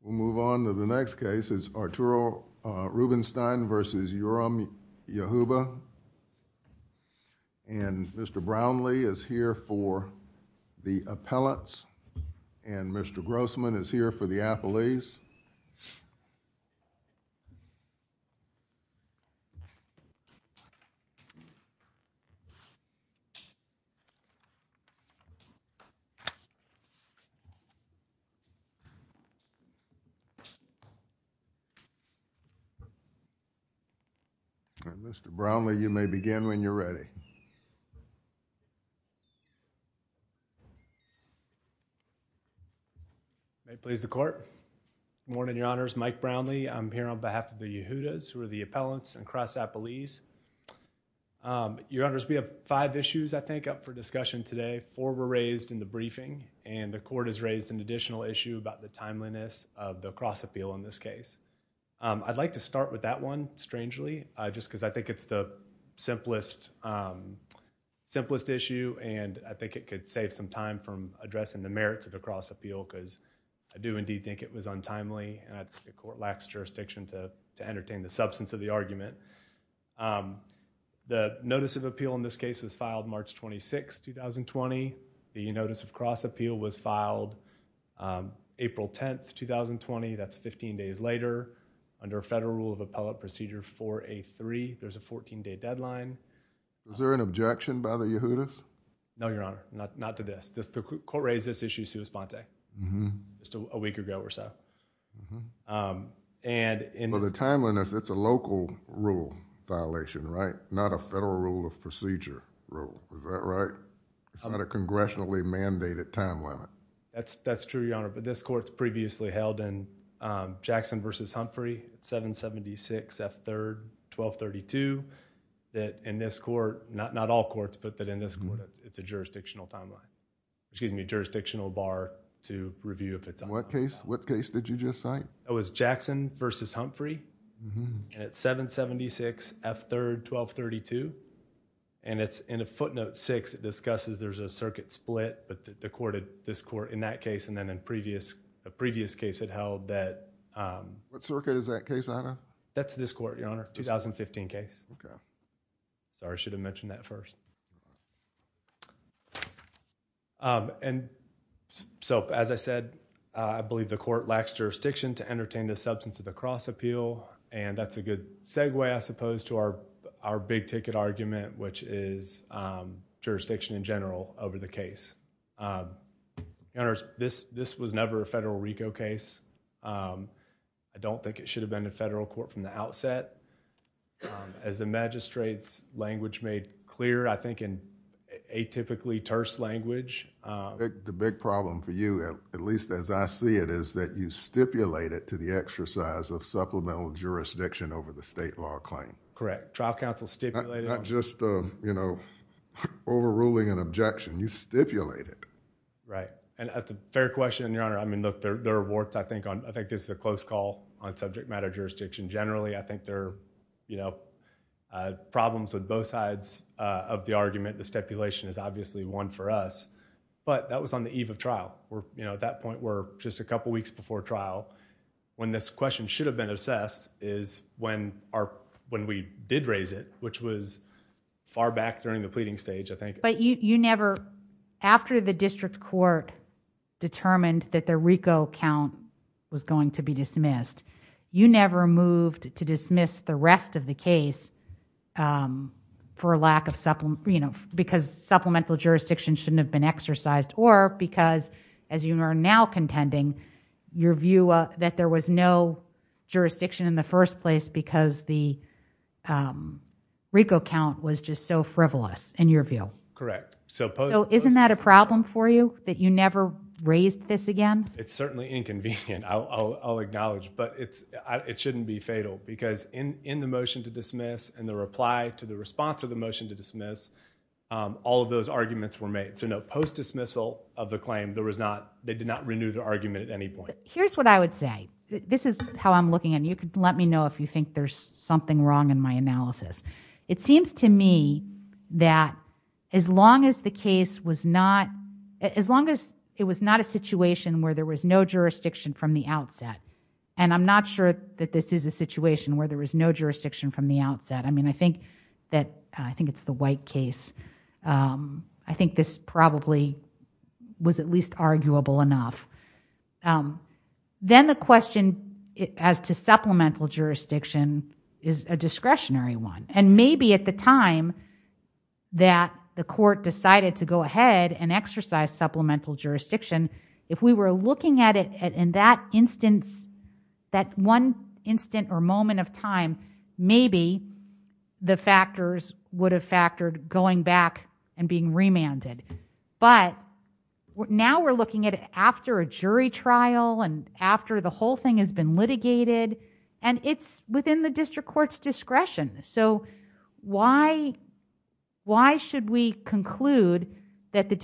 We'll move on to the next case. It's Arturo Rubinstein v. Yoram Yehuba and Mr. Brownlee is here for the Appellants and Mr. Grossman is here for the Appellees. Mr. Brownlee, you may begin when you're ready. May it please the Court. Good morning, Your Honors. Mike Brownlee. I'm here on behalf of the Yehudas who are the Appellants and Cross Appellees. Your Honors, we have five issues I think up for discussion today. Four were raised in the briefing and the Court has raised an additional issue about the timeliness of the cross appeal in this case. I'd like to start with that one strangely just because I think it's the simplest issue and I think it could save some time from addressing the merits of the cross appeal because I do indeed think it was untimely and the Court lacks jurisdiction to entertain the substance of the argument. The notice of appeal in this case, the notice of cross appeal was filed April 10th, 2020. That's 15 days later. Under a Federal Rule of Appellate Procedure 4A3, there's a 14-day deadline. Is there an objection by the Yehudas? No, Your Honor. Not to this. The Court raised this issue sui sponte just a week ago or so. The timeliness, it's a local rule violation, right? Not a Federal Rule of Procedure rule. Is that right? It's not a congressionally mandated time limit. That's true, Your Honor, but this Court's previously held in Jackson v. Humphrey, 776 F. 3rd, 1232. In this Court, not all courts, but in this Court, it's a jurisdictional timeline. Excuse me, jurisdictional bar to review if it's... What case did you just cite? It was Jackson v. Humphrey and it's 776 F. 3rd, 1232. In a footnote 6, it discusses there's a circuit split, but this Court in that case and then in a previous case had held that... What circuit is that case on? That's this Court, Your Honor, 2015 case. Sorry, I should have mentioned that first. As I said, I believe the Court lacks jurisdiction to entertain the substance of the cross appeal, and that's a good segue, I suppose, to our big ticket argument, which is jurisdiction in general over the case. Your Honor, this was never a Federal RICO case. I don't think it should have been a Federal Court from the outset. As the magistrate's language made clear, I think in atypically terse language... The big problem for you, at least as I see it, is that you stipulate it to the exercise of supplemental jurisdiction over the state law claim. Correct. Trial counsel stipulate it. Not just overruling an objection. You stipulate it. Right. That's a fair question, Your Honor. I think this is a close call on subject matter jurisdiction. Generally, I think there are problems with both sides of the argument. The stipulation is obviously one for us, but that was on the eve of trial. At that point, just a couple of weeks before trial, when this question should have been assessed is when we did raise it, which was far back during the pleading stage, I think. After the District Court determined that the RICO count was going to be dismissed, you never moved to dismiss the rest of the case because supplemental jurisdiction shouldn't have been exercised or because, as you are now contending, your view that there was no jurisdiction in the first place because the RICO count was just so frivolous in your view. Correct. So isn't that a problem for you, that you never raised this again? It's certainly inconvenient, I'll acknowledge, but it shouldn't be fatal because in the motion to dismiss and the reply to the response to the motion to dismiss, all of those arguments were post-dismissal of the claim. They did not renew the argument at any point. Here's what I would say. This is how I'm looking at it. Let me know if you think there's something wrong in my analysis. It seems to me that as long as it was not a situation where there was no jurisdiction from the outset, and I'm not sure that this is a situation where there was no case, I think this probably was at least arguable enough. Then the question as to supplemental jurisdiction is a discretionary one. And maybe at the time that the court decided to go ahead and exercise supplemental jurisdiction, if we were looking at it in that instance, that one instant or moment of time, maybe the factors would have factored going back and being remanded. But now we're looking at it after a jury trial and after the whole thing has been litigated, and it's within the district court's discretion. So why should we conclude that the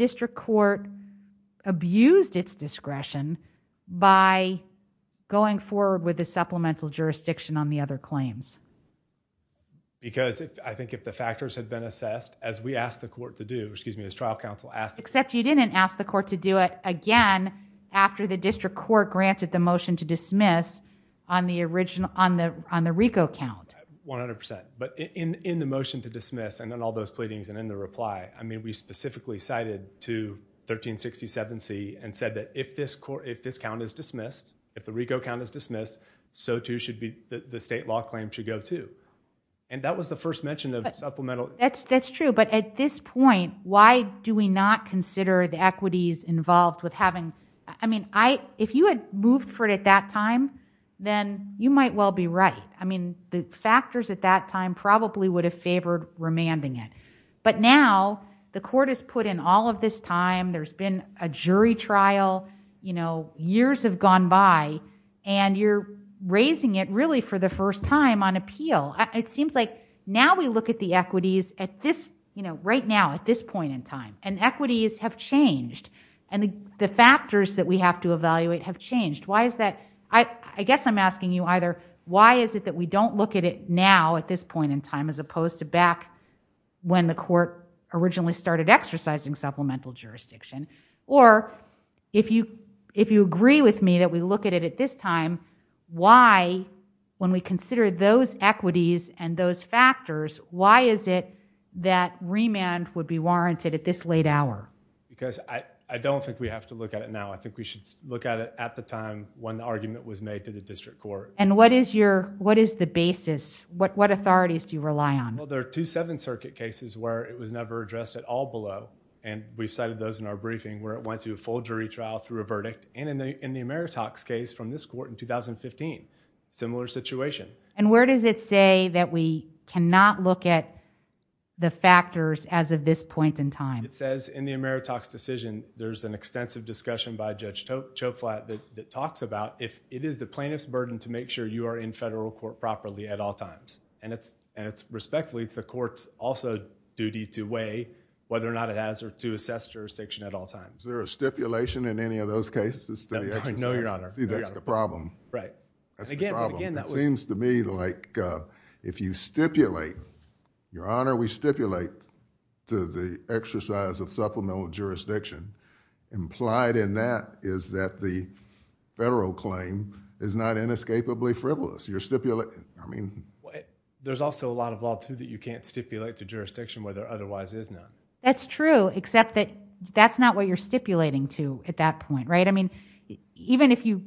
with the supplemental jurisdiction on the other claims? Because I think if the factors had been assessed as we asked the court to do, excuse me, as trial counsel asked. Except you didn't ask the court to do it again after the district court granted the motion to dismiss on the RICO count. 100%. But in the motion to dismiss and then all those pleadings and in the reply, I mean, specifically cited to 1367C and said that if this count is dismissed, if the RICO count is dismissed, so too should the state law claim should go too. And that was the first mention of supplemental. That's true. But at this point, why do we not consider the equities involved with having, I mean, if you had moved for it at that time, then you might well be right. I mean, the factors at that time probably would have favored remanding it. But now the court has put in all of this time, there's been a jury trial, you know, years have gone by and you're raising it really for the first time on appeal. It seems like now we look at the equities at this, you know, right now at this point in time and equities have changed and the factors that we have to evaluate have changed. Why is that? I guess I'm asking you either, why is it that we don't look at it now at this point in time as opposed to back when the court originally started exercising supplemental jurisdiction? Or if you agree with me that we look at it at this time, why, when we consider those equities and those factors, why is it that remand would be warranted at this late hour? Because I don't think we have to look at it now. I think we should look at it at the time when the argument was made to the district court. And what is your, what is the basis, what authorities do you rely on? Well, there are two Seventh Circuit cases where it was never addressed at all below and we've cited those in our briefing where it went to a full jury trial through a verdict and in the Ameritox case from this court in 2015, similar situation. And where does it say that we cannot look at the factors as of this point in time? It says in the Ameritox decision, there's an extensive discussion by Judge Choflat that talks about if it is the plaintiff's burden to make sure you are in federal court properly at all times. And it's respectfully, it's the court's also duty to weigh whether or not it has or to assess jurisdiction at all times. Is there a stipulation in any of those cases? No, Your Honor. See, that's the problem. Right. That's the problem. It seems to me like if you stipulate, Your Honor, we stipulate to the exercise of supplemental jurisdiction, implied in that is that the federal claim is not inescapably frivolous. You're stipulating, I mean. There's also a lot of law that you can't stipulate to jurisdiction where there otherwise is not. That's true, except that that's not what you're stipulating to at that point, right? I mean, even if you,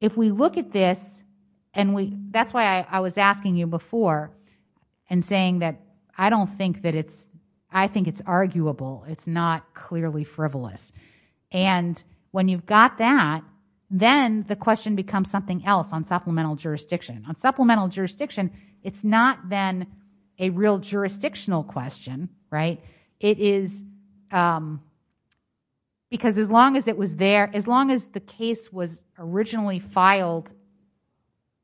if we look at this and we, that's why I was asking you before and saying that I don't think that it's, I think it's arguable. It's not clearly frivolous. And when you've got that, then the question becomes something else on supplemental jurisdiction. On supplemental jurisdiction, it's not then a real jurisdictional question, right? It is because as long as it was there, as long as the case was originally filed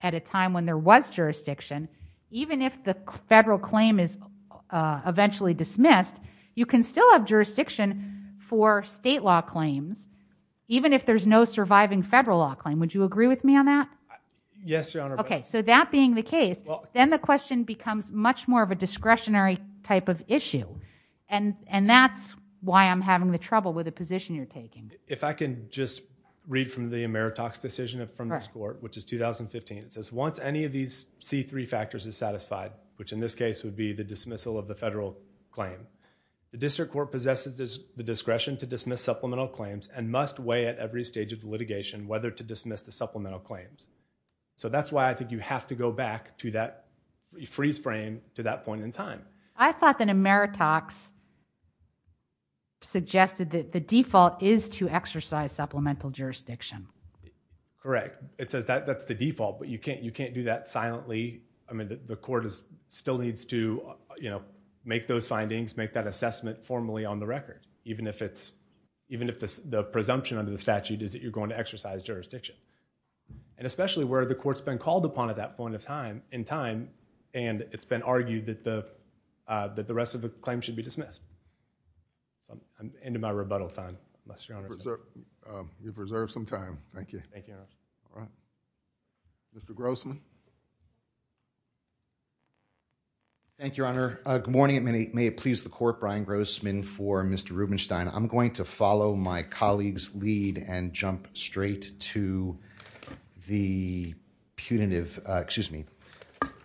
at a time when there was jurisdiction, even if the federal claim is eventually dismissed, you can still have jurisdiction for state law claims, even if there's no surviving federal law claim. Would you agree with me on that? Yes, Your Honor. Okay. So that being the case, then the question becomes much more of a discretionary type of issue. And that's why I'm having the trouble with the position you're taking. If I can just read from the 2015 statute, it says, once any of these C3 factors is satisfied, which in this case would be the dismissal of the federal claim, the district court possesses the discretion to dismiss supplemental claims and must weigh at every stage of the litigation, whether to dismiss the supplemental claims. So that's why I think you have to go back to that freeze frame to that point in time. I thought that Ameritox suggested that the default is to exercise supplemental jurisdiction. Correct. It says that that's the default, but you can't do that silently. I mean, the court still needs to make those findings, make that assessment formally on the record, even if the presumption under the statute is that you're going to exercise jurisdiction. And especially where the court's been called upon at that point in time, and it's been argued that the rest of the claim should be dismissed. I'm into my rebuttal time, Your Honor. You've reserved some time. Thank you. Thank you. All right. Mr. Grossman. Thank you, Your Honor. Good morning. May it please the court, Brian Grossman for Mr. Rubenstein. I'm going to follow my colleague's lead and jump straight to the punitive, excuse me,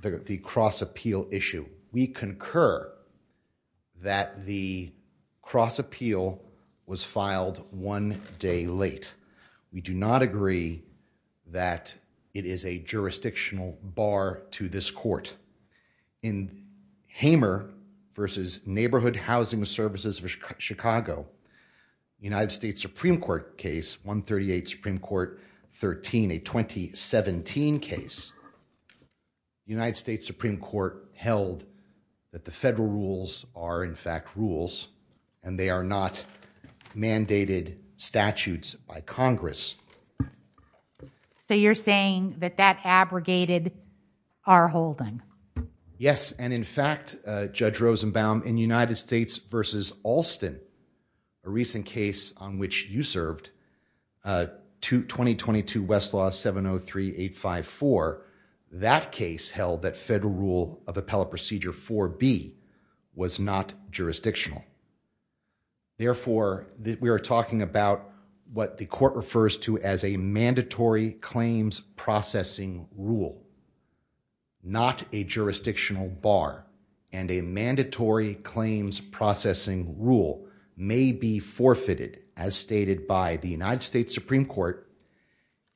the cross appeal issue. We concur that the cross appeal was filed one day late. We do not agree that it is a jurisdictional bar to this court. In Hamer versus Neighborhood Housing Services Chicago, United States Supreme Court case 138 Supreme Court 13, a 2017 case, United States Supreme Court held that the federal rules are in fact rules and they are not mandated statutes by Congress. So you're saying that that abrogated our holding? Yes. And in fact, Judge Rosenbaum, in United States versus Alston, a recent case on which you served, 2022 Westlaw 703854, that case held that federal rule of appellate procedure 4B was not jurisdictional. Therefore, we are talking about what the court refers to as a mandatory claims processing rule, not a jurisdictional bar and a mandatory claims processing rule may be forfeited as stated by the United States Supreme Court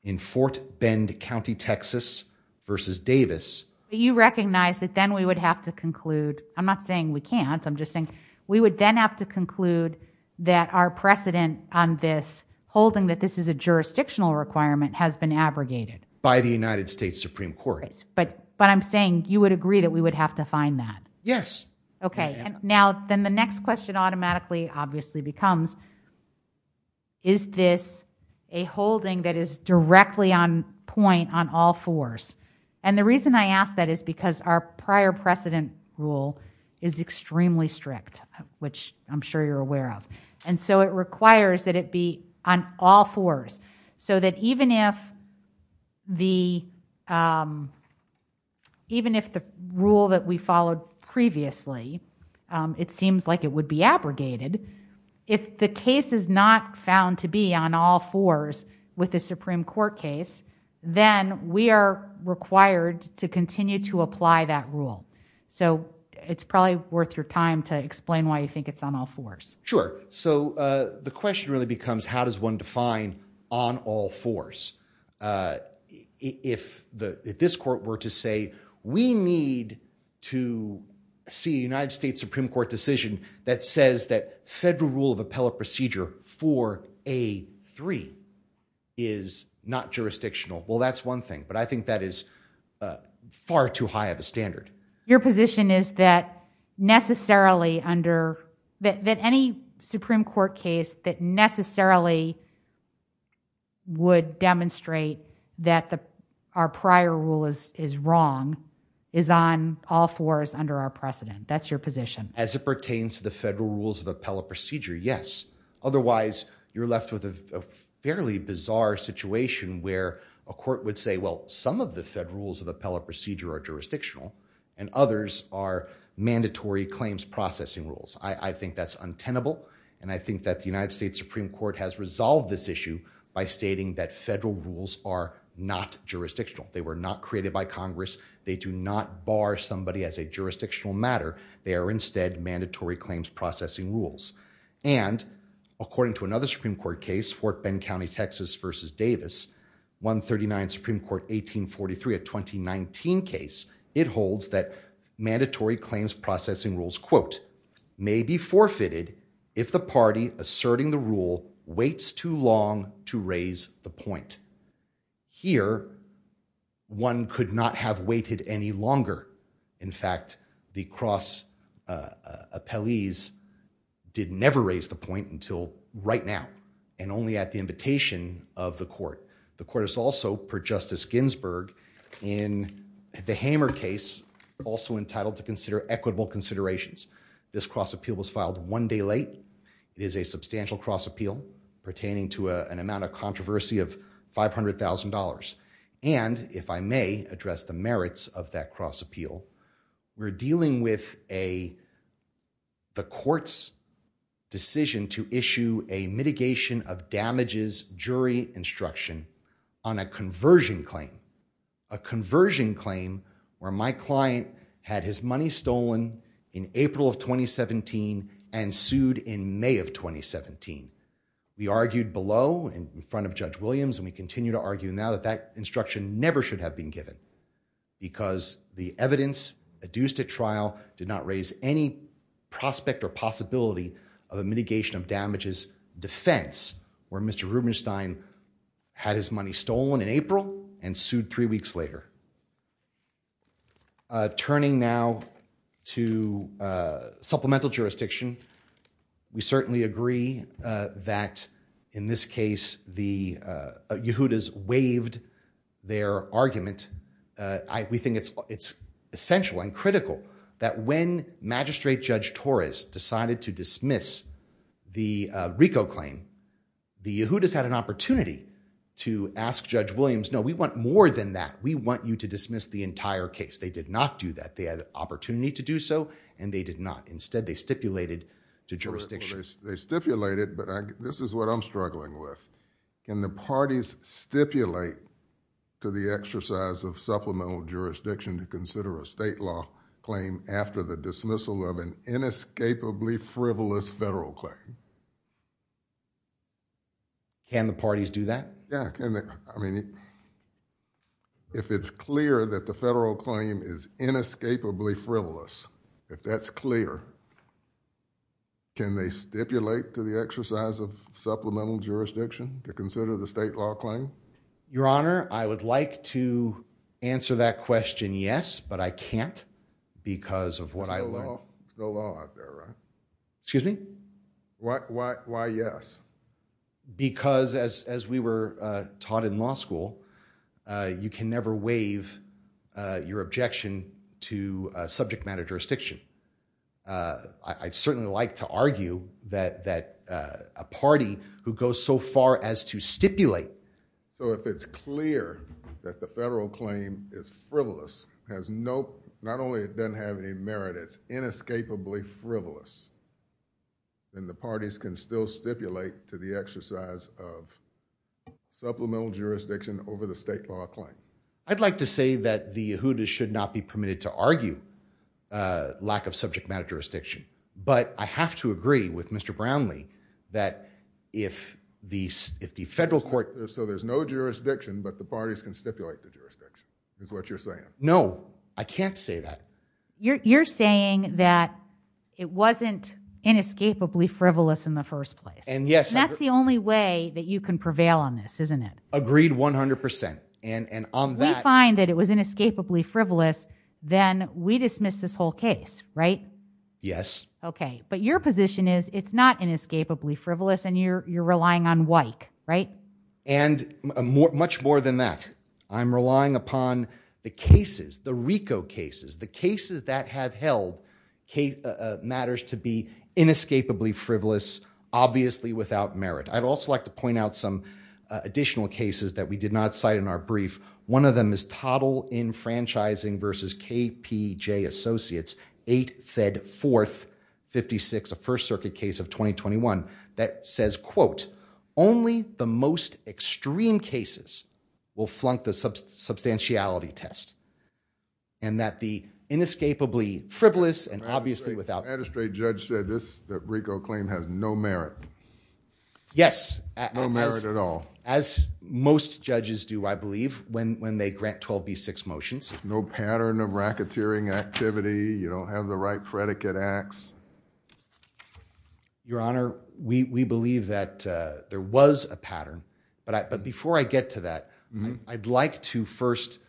in Fort Bend County, Texas versus Davis. You recognize that then we would have to conclude, I'm not saying we can't, I'm just saying we would then have to conclude that our precedent on this holding that this is a jurisdictional requirement has been abrogated by the United States Supreme Court. But I'm saying you would agree that we would have to find that. Yes. Okay. And now then the next question automatically obviously becomes, is this a holding that is directly on point on all fours? And the reason I ask that is because our prior precedent rule is extremely strict, which I'm sure you're aware of. And so it requires that it be on all fours so that even if the rule that we followed previously, it seems like it would be abrogated. If the case is not found to be on all fours with the Supreme Court case, then we are required to continue to apply that rule. So it's probably worth your time to explain why you think it's on all fours. Sure. So the question really becomes, how does one define on all fours? If this court were to say, we need to see United States Supreme Court decision that says that federal rule of appellate procedure for A3 is not jurisdictional. Well, that's one thing, but I think that is far too high of a standard. Your position is that necessarily under that any Supreme Court case that necessarily would demonstrate that our prior rule is wrong is on all fours under our precedent. That's your position. As it pertains to the federal rules of appellate procedure. Yes. Otherwise you're left with a fairly bizarre situation where a court would say, well, some of the federal rules of appellate procedure are mandatory claims processing rules. I think that's untenable. And I think that the United States Supreme Court has resolved this issue by stating that federal rules are not jurisdictional. They were not created by Congress. They do not bar somebody as a jurisdictional matter. They are instead mandatory claims processing rules. And according to another Supreme Court case, Fort mandatory claims processing rules, quote, may be forfeited. If the party asserting the rule waits too long to raise the point here, one could not have waited any longer. In fact, the cross appellees did never raise the point until right now and only at the invitation of the court. The court is also per justice Ginsburg in the hammer case, also entitled to consider equitable considerations. This cross appeal was filed one day late. It is a substantial cross appeal pertaining to a, an amount of controversy of $500,000. And if I may address the merits of that cross appeal, we're dealing with a, the court's decision to issue a mitigation of damages jury instruction on a conversion claim, a conversion claim where my client had his money stolen in April of 2017 and sued in May of 2017. We argued below in front of judge Williams. And we continue to argue now that that instruction never should have been given because the evidence adduced to trial did not raise any prospect or possibility of a mitigation of damages defense where Mr. Rubenstein had his money stolen in April and sued three weeks later. Turning now to a supplemental jurisdiction. We certainly agree that in this case, the Yehudas waived their argument. I, we think it's, it's essential and critical that when magistrate judge Torres decided to dismiss the RICO claim, the Yehudas had an opportunity to ask judge Williams, no, we want more than that. We want you to dismiss the entire case. They did not do that. They had an opportunity to do so. And they did not. Instead they stipulated to jurisdiction. They stipulated, but this is what I'm struggling with. Can the parties stipulate to the exercise of supplemental jurisdiction to consider a state law claim after the dismissal of an inescapably frivolous federal claim? Can the parties do that? Yeah. I mean, if it's clear that the federal claim is inescapably frivolous, if that's clear, can they stipulate to the exercise of supplemental jurisdiction to consider the state law claim? Your honor, I would like to answer that question. Yes, but I can't because of what I learned. Excuse me? Why? Why? Why? Yes. Because as, as we were taught in law school you can never waive your objection to a subject matter jurisdiction. I certainly like to argue that, that a party who goes so far as to stipulate so if it's clear that the federal claim is frivolous, has no, not only it doesn't have any merit, it's inescapably frivolous, then the parties can still stipulate to the exercise of supplemental jurisdiction over the state law claim. I'd like to say that the Yehuda's should not be permitted to argue lack of subject matter jurisdiction. But I have to agree with Mr. Brownlee that if the, if the federal court, so there's no jurisdiction, but the parties can stipulate the jurisdiction is what you're saying. No, I can't say that. You're, you're saying that it wasn't inescapably frivolous in the first place. And yes, that's the only way that you can prevail on this, isn't it? Agreed 100 percent. And, and on that, we find that it was inescapably frivolous, then we dismiss this whole case, right? Yes. Okay. But your position is it's not inescapably frivolous and you're, you're relying on WIKE, right? And more, much more than that. I'm relying upon the cases, the RICO cases, the cases that have held case matters to be inescapably frivolous, obviously without merit. I'd also like to point out some additional cases that we did not cite in our brief. One of them is toddle in franchising versus KPJ associates, eight fed fourth 56, a first circuit case of 2021 that says, quote, only the most extreme cases will flunk the substantiality test. And that the inescapably frivolous and obviously without magistrate judge said this, that RICO claim has no merit. Yes. No merit at all. As most judges do, I believe when, when they grant 12 B six motions, no pattern of racketeering activity, you don't have the right predicate acts. Your honor, we, we believe that there was a pattern, but I, but before I get to that, I'd like to first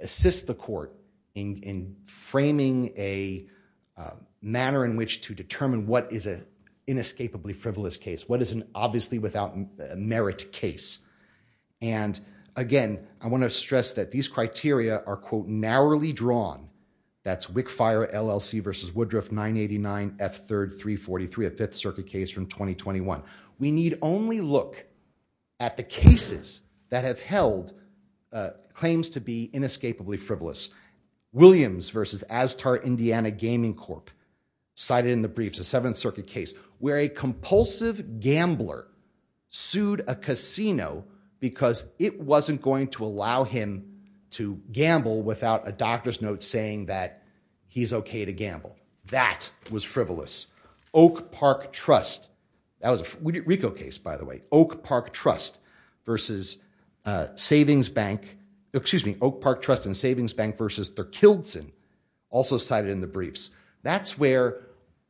assist the court in, in framing a manner in which to determine what is a inescapably frivolous case. What is an obviously without merit case. And again, I want to stress that these criteria are quote narrowly drawn. That's WIC fire LLC versus Woodruff nine 89 F third three 43, a fifth circuit case from 2021. We need only look at the cases that have held claims to be inescapably frivolous Williams versus as tar, Indiana gaming cork cited in the briefs, a seventh circuit case where a compulsive gambler sued a casino because it wasn't going to allow him to gamble without a doctor's note saying that he's okay to gamble. That was frivolous Oak park trust. That was a RICO case, by the way, Oak park trust versus a savings bank, excuse me, Oak park trust and savings bank versus their Kildsen also cited in the briefs. That's where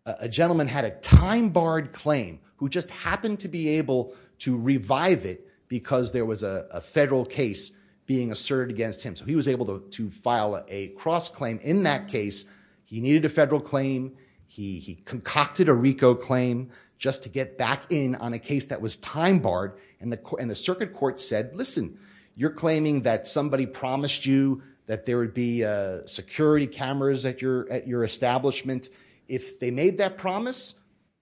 a gentleman had a time barred claim who just happened to be able to revive it because there was a federal case being asserted against him. So he was able to, to file a cross claim in that case. He needed a federal claim. He, he concocted a RICO claim just to get back in on a case that was time barred and the, and the circuit court said, listen, you're claiming that somebody promised you that there would be a security cameras at your, at your establishment. If they made that promise,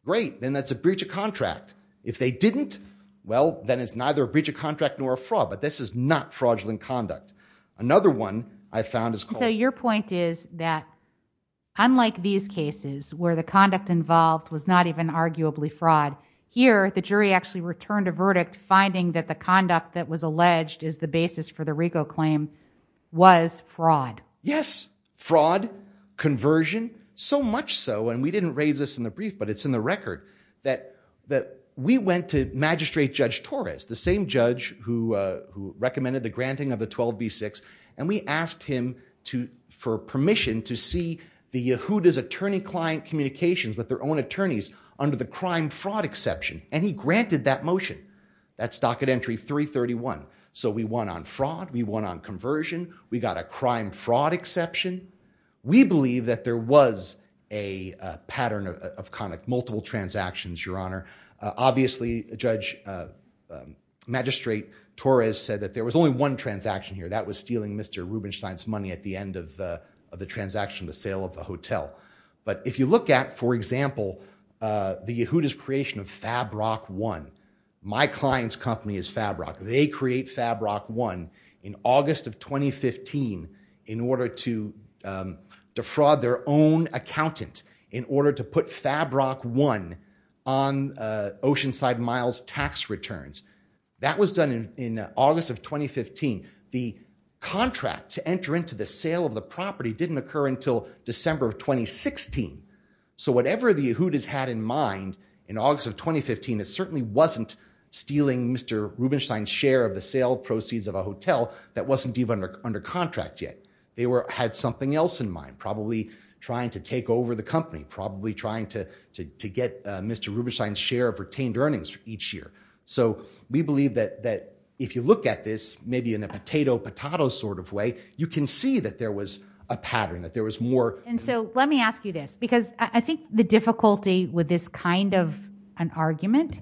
great, then that's a breach of contract. If they didn't, well, then it's neither a breach of contract nor a fraud, but this is not fraudulent conduct. Another one I found is. So your point is that unlike these cases where the conduct involved was not even arguably fraud here, the jury actually returned a verdict finding that the conduct that was alleged is the basis for the RICO claim was fraud. Yes. Fraud conversion so much so. And we didn't raise this in the brief, but it's in the record that, that we went to magistrate judge Torres, the same judge who, uh, who recommended the granting of the 12 B six. And we asked him to, for permission to see the who does attorney client communications with their own attorneys under the crime fraud exception. And he granted that motion. That's docket entry three 31. So we won on fraud. We won on conversion. We got a crime fraud exception. We believe that there was a pattern of, of conduct, multiple transactions, your honor. Obviously judge, uh, um, magistrate Torres said that there was only one transaction here that was stealing Mr. Rubenstein's money at the end of the, of the transaction, the sale of the hotel. But if you look at, for example, uh, the Yehuda's creation of Fabrock one, my client's company is Fabrock. They create Fabrock one in August of 2015, in order to, um, defraud their own accountant in order to put Fabrock one on, uh, Oceanside miles tax returns that was done in, in August of 2015. The contract to enter into the sale of the property didn't occur until December of 2016. So whatever the Yehuda's had in mind in August of 2015, it certainly wasn't stealing Mr. Rubenstein's share of the sale proceeds of a hotel that wasn't even under contract yet. They were, had something else in mind, probably trying to take over the company, probably trying to, to, to get, uh, Mr. Rubenstein's share of retained earnings for each year. So we believe that, that if you look at this, maybe in a potato, potato sort of way, you can see that there was a pattern, that there was more. And so let me ask you this, because I think the difficulty with this kind of an argument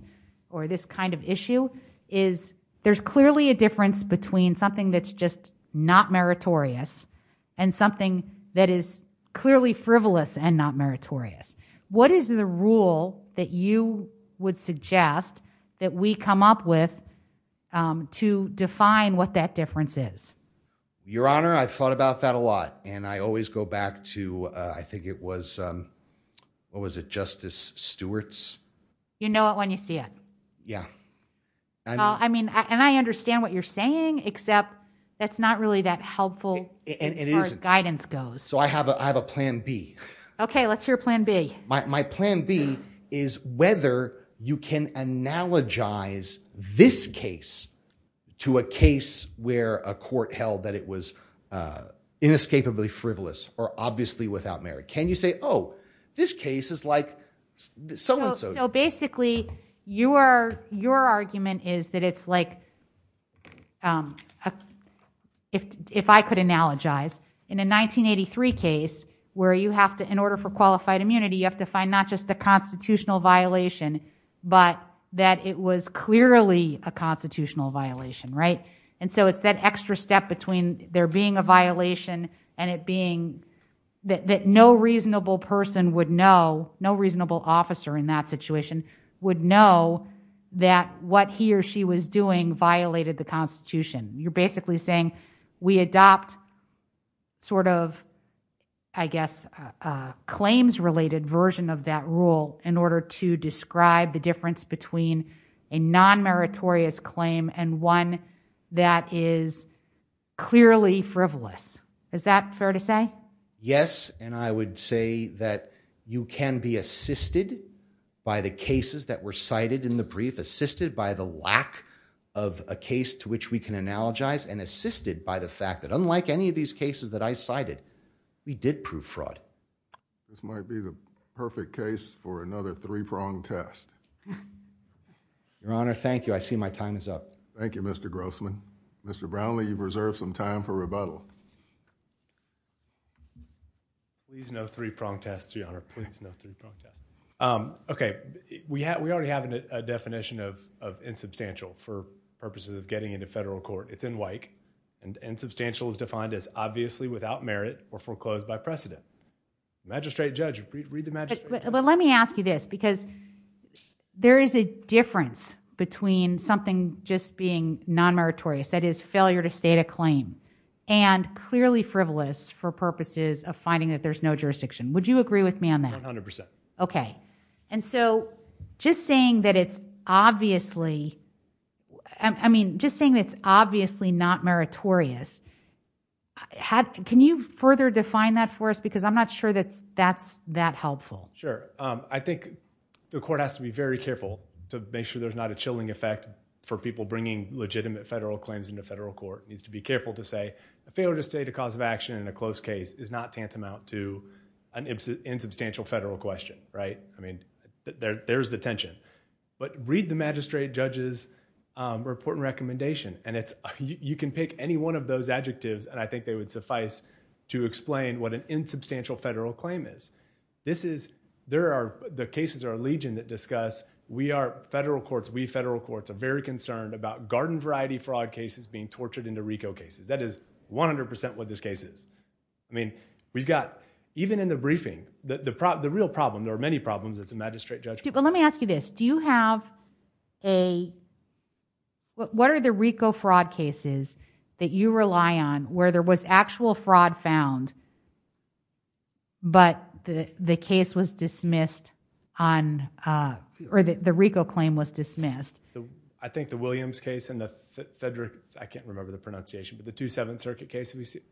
or this kind of issue is there's clearly a difference between something that's just not meritorious and something that is clearly frivolous and not meritorious. What is the rule that you would suggest that we come up with, um, to define what that difference is? Your Honor, I've thought about that a lot and I always go back to, uh, I think it was, um, what was it? Justice Stewart's. You know it when you see it. Yeah. I mean, and I understand what you're saying, except that's not really that helpful as far as guidance goes. So I have a, I have a plan B. Okay. Let's hear plan B. My plan B is whether you can analogize this case to a case where a court held that it was, uh, inescapably frivolous or obviously without merit. Can you say, oh, this case is like so and so. So basically you are, your argument is that it's like, um, if, if I could analogize in a 1983 case where you have to, in order for qualified immunity, you have to find not just the constitutional violation, but that it was clearly a constitutional violation, right? And so it's that extra step between there being a violation and it being that, that no reasonable person would know, no reasonable officer in that situation would know that what he or she was doing violated the constitution. You're basically saying we adopt sort of, I guess, uh, uh, claims related version of that rule in order to describe the difference between a non-meritorious claim and one that is clearly frivolous. Is that fair to say? Yes. And I would say that you can be assisted by the cases that were cited in the brief, assisted by the lack of a case to which we can analogize and assisted by the fact that unlike any of these cases that I cited, we did prove fraud. This might be the perfect case for another three-prong test. Your Honor, thank you. I see my time is up. Thank you, Mr. Grossman. Mr. Brownlee, you've reserved some time for rebuttal. Please no three-prong test, Your Honor. Please no three-prong test. Okay, we have, we already have a definition of, of insubstantial for purposes of getting into federal court. It's in WIKE and insubstantial is defined as obviously without merit or foreclosed by precedent. Magistrate judge, read the magistrate judge. But let me ask you this because there is a difference between something just being non-meritorious, that is failure to state a claim and clearly frivolous for purposes of finding that there's no jurisdiction. Would you agree with me on that? 100%. Okay, and so just saying that it's obviously, I mean, just saying that it's obviously not meritorious, can you further define that for us? Because I'm not sure that's that helpful. Sure, I think the court has to be very careful to make sure there's not a chilling effect for people bringing legitimate federal claims into federal court. Needs to be careful to say a failure to state a cause of action in a close case is not tantamount to an insubstantial federal question, right? I mean, there's the tension, but read the magistrate judge's report and recommendation and you can pick any one of those adjectives and I think they would suffice to explain what an insubstantial federal claim is. This is, the cases are legion that discuss, we are federal courts, we federal courts are very concerned about garden variety fraud cases being tortured into RICO cases. That is 100% what this case is. I mean, we've got, even in the briefing, the real problem, there are many problems as a magistrate judge. Let me ask you this, do you have a, what are the RICO fraud cases that you rely on where there was actual fraud found but the case was dismissed on, or the RICO claim was dismissed? I think the Williams case and the Federal, I can't remember the pronunciation, but the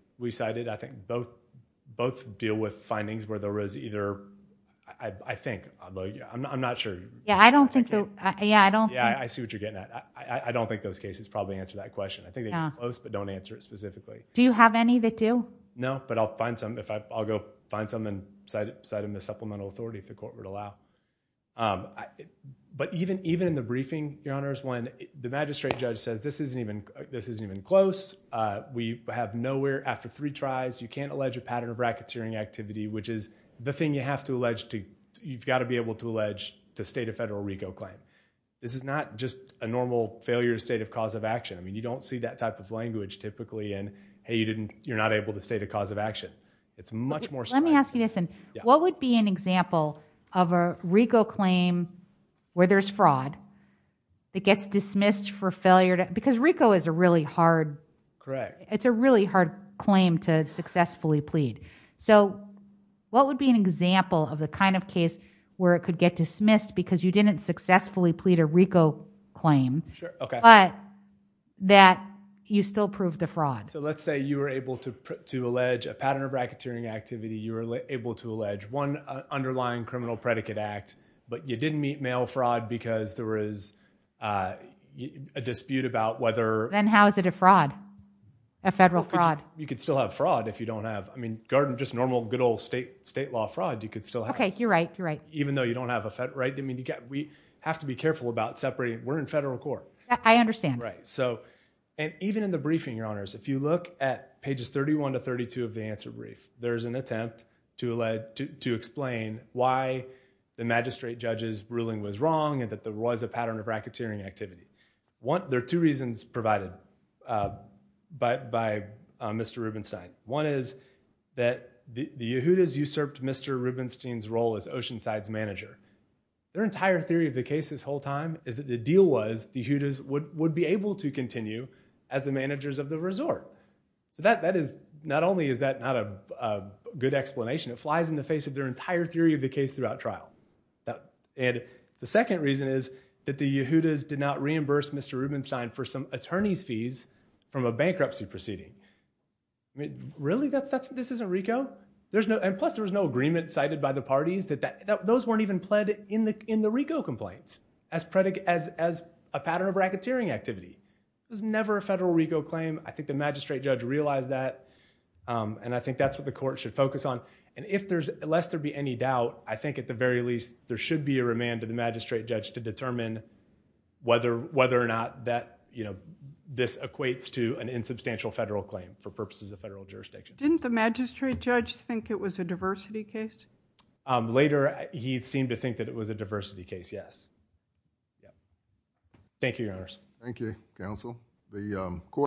both deal with findings where there was either, I think, I'm not sure. Yeah, I don't think the, yeah, I don't think. Yeah, I see what you're getting at. I don't think those cases probably answer that question. I think they're close but don't answer it specifically. Do you have any that do? No, but I'll find some, I'll go find some and cite them as supplemental authority if the court would allow. But even in the briefing, Your Honors, when the magistrate judge says this isn't even close, we have nowhere after three tries, you can't allege a pattern of racketeering activity, which is the thing you have to allege to, you've got to be able to allege to state a Federal RICO claim. This is not just a normal failure state of cause of action. I mean, you don't see that type of language typically in, hey, you didn't, you're not able to state a cause of action. It's much more. Let me ask you this, what would be an example of a RICO claim where there's fraud that it's a really hard claim to successfully plead? So what would be an example of the kind of case where it could get dismissed because you didn't successfully plead a RICO claim, but that you still proved a fraud? So let's say you were able to allege a pattern of racketeering activity. You were able to allege one underlying criminal predicate act, but you didn't meet mail fraud because there was a dispute about whether. Then how is it a fraud, a Federal fraud? You could still have fraud if you don't have, I mean, garden, just normal, good old state, state law fraud, you could still have. Okay. You're right. You're right. Even though you don't have a Fed, right. I mean, you got, we have to be careful about separating. We're in Federal court. I understand. Right. So, and even in the briefing, your honors, if you look at pages 31 to 32 of the answer brief, there's an attempt to allege, to explain why the magistrate judge's ruling was wrong and that there was a pattern of racketeering activity. There are two reasons provided by Mr. Rubenstein. One is that the Yehudas usurped Mr. Rubenstein's role as Oceanside's manager. Their entire theory of the case this whole time is that the deal was the Yehudas would be able to continue as the managers of the resort. So that is, not only is that not a good explanation, it flies in the face of their entire theory of the case throughout trial. And the second reason is that the Yehudas did not reimburse Mr. Rubenstein for some attorney's fees from a bankruptcy proceeding. I mean, really? That's, that's, this isn't RICO? There's no, and plus there was no agreement cited by the parties that that, those weren't even pled in the, in the RICO complaints as predicate, as, as a pattern of racketeering activity. It was never a Federal RICO claim. I think the magistrate judge realized that. And I think that's what the court should focus on. And if there's, lest there be any doubt, I think at the very least, there should be a remand to the magistrate judge to determine whether, whether or not that, you know, this equates to an insubstantial Federal claim for purposes of Federal jurisdiction. Didn't the magistrate judge think it was a diversity case? Later, he seemed to think that it was a diversity case, yes. Yeah. Thank you, Your Honors. Thank you, Counsel.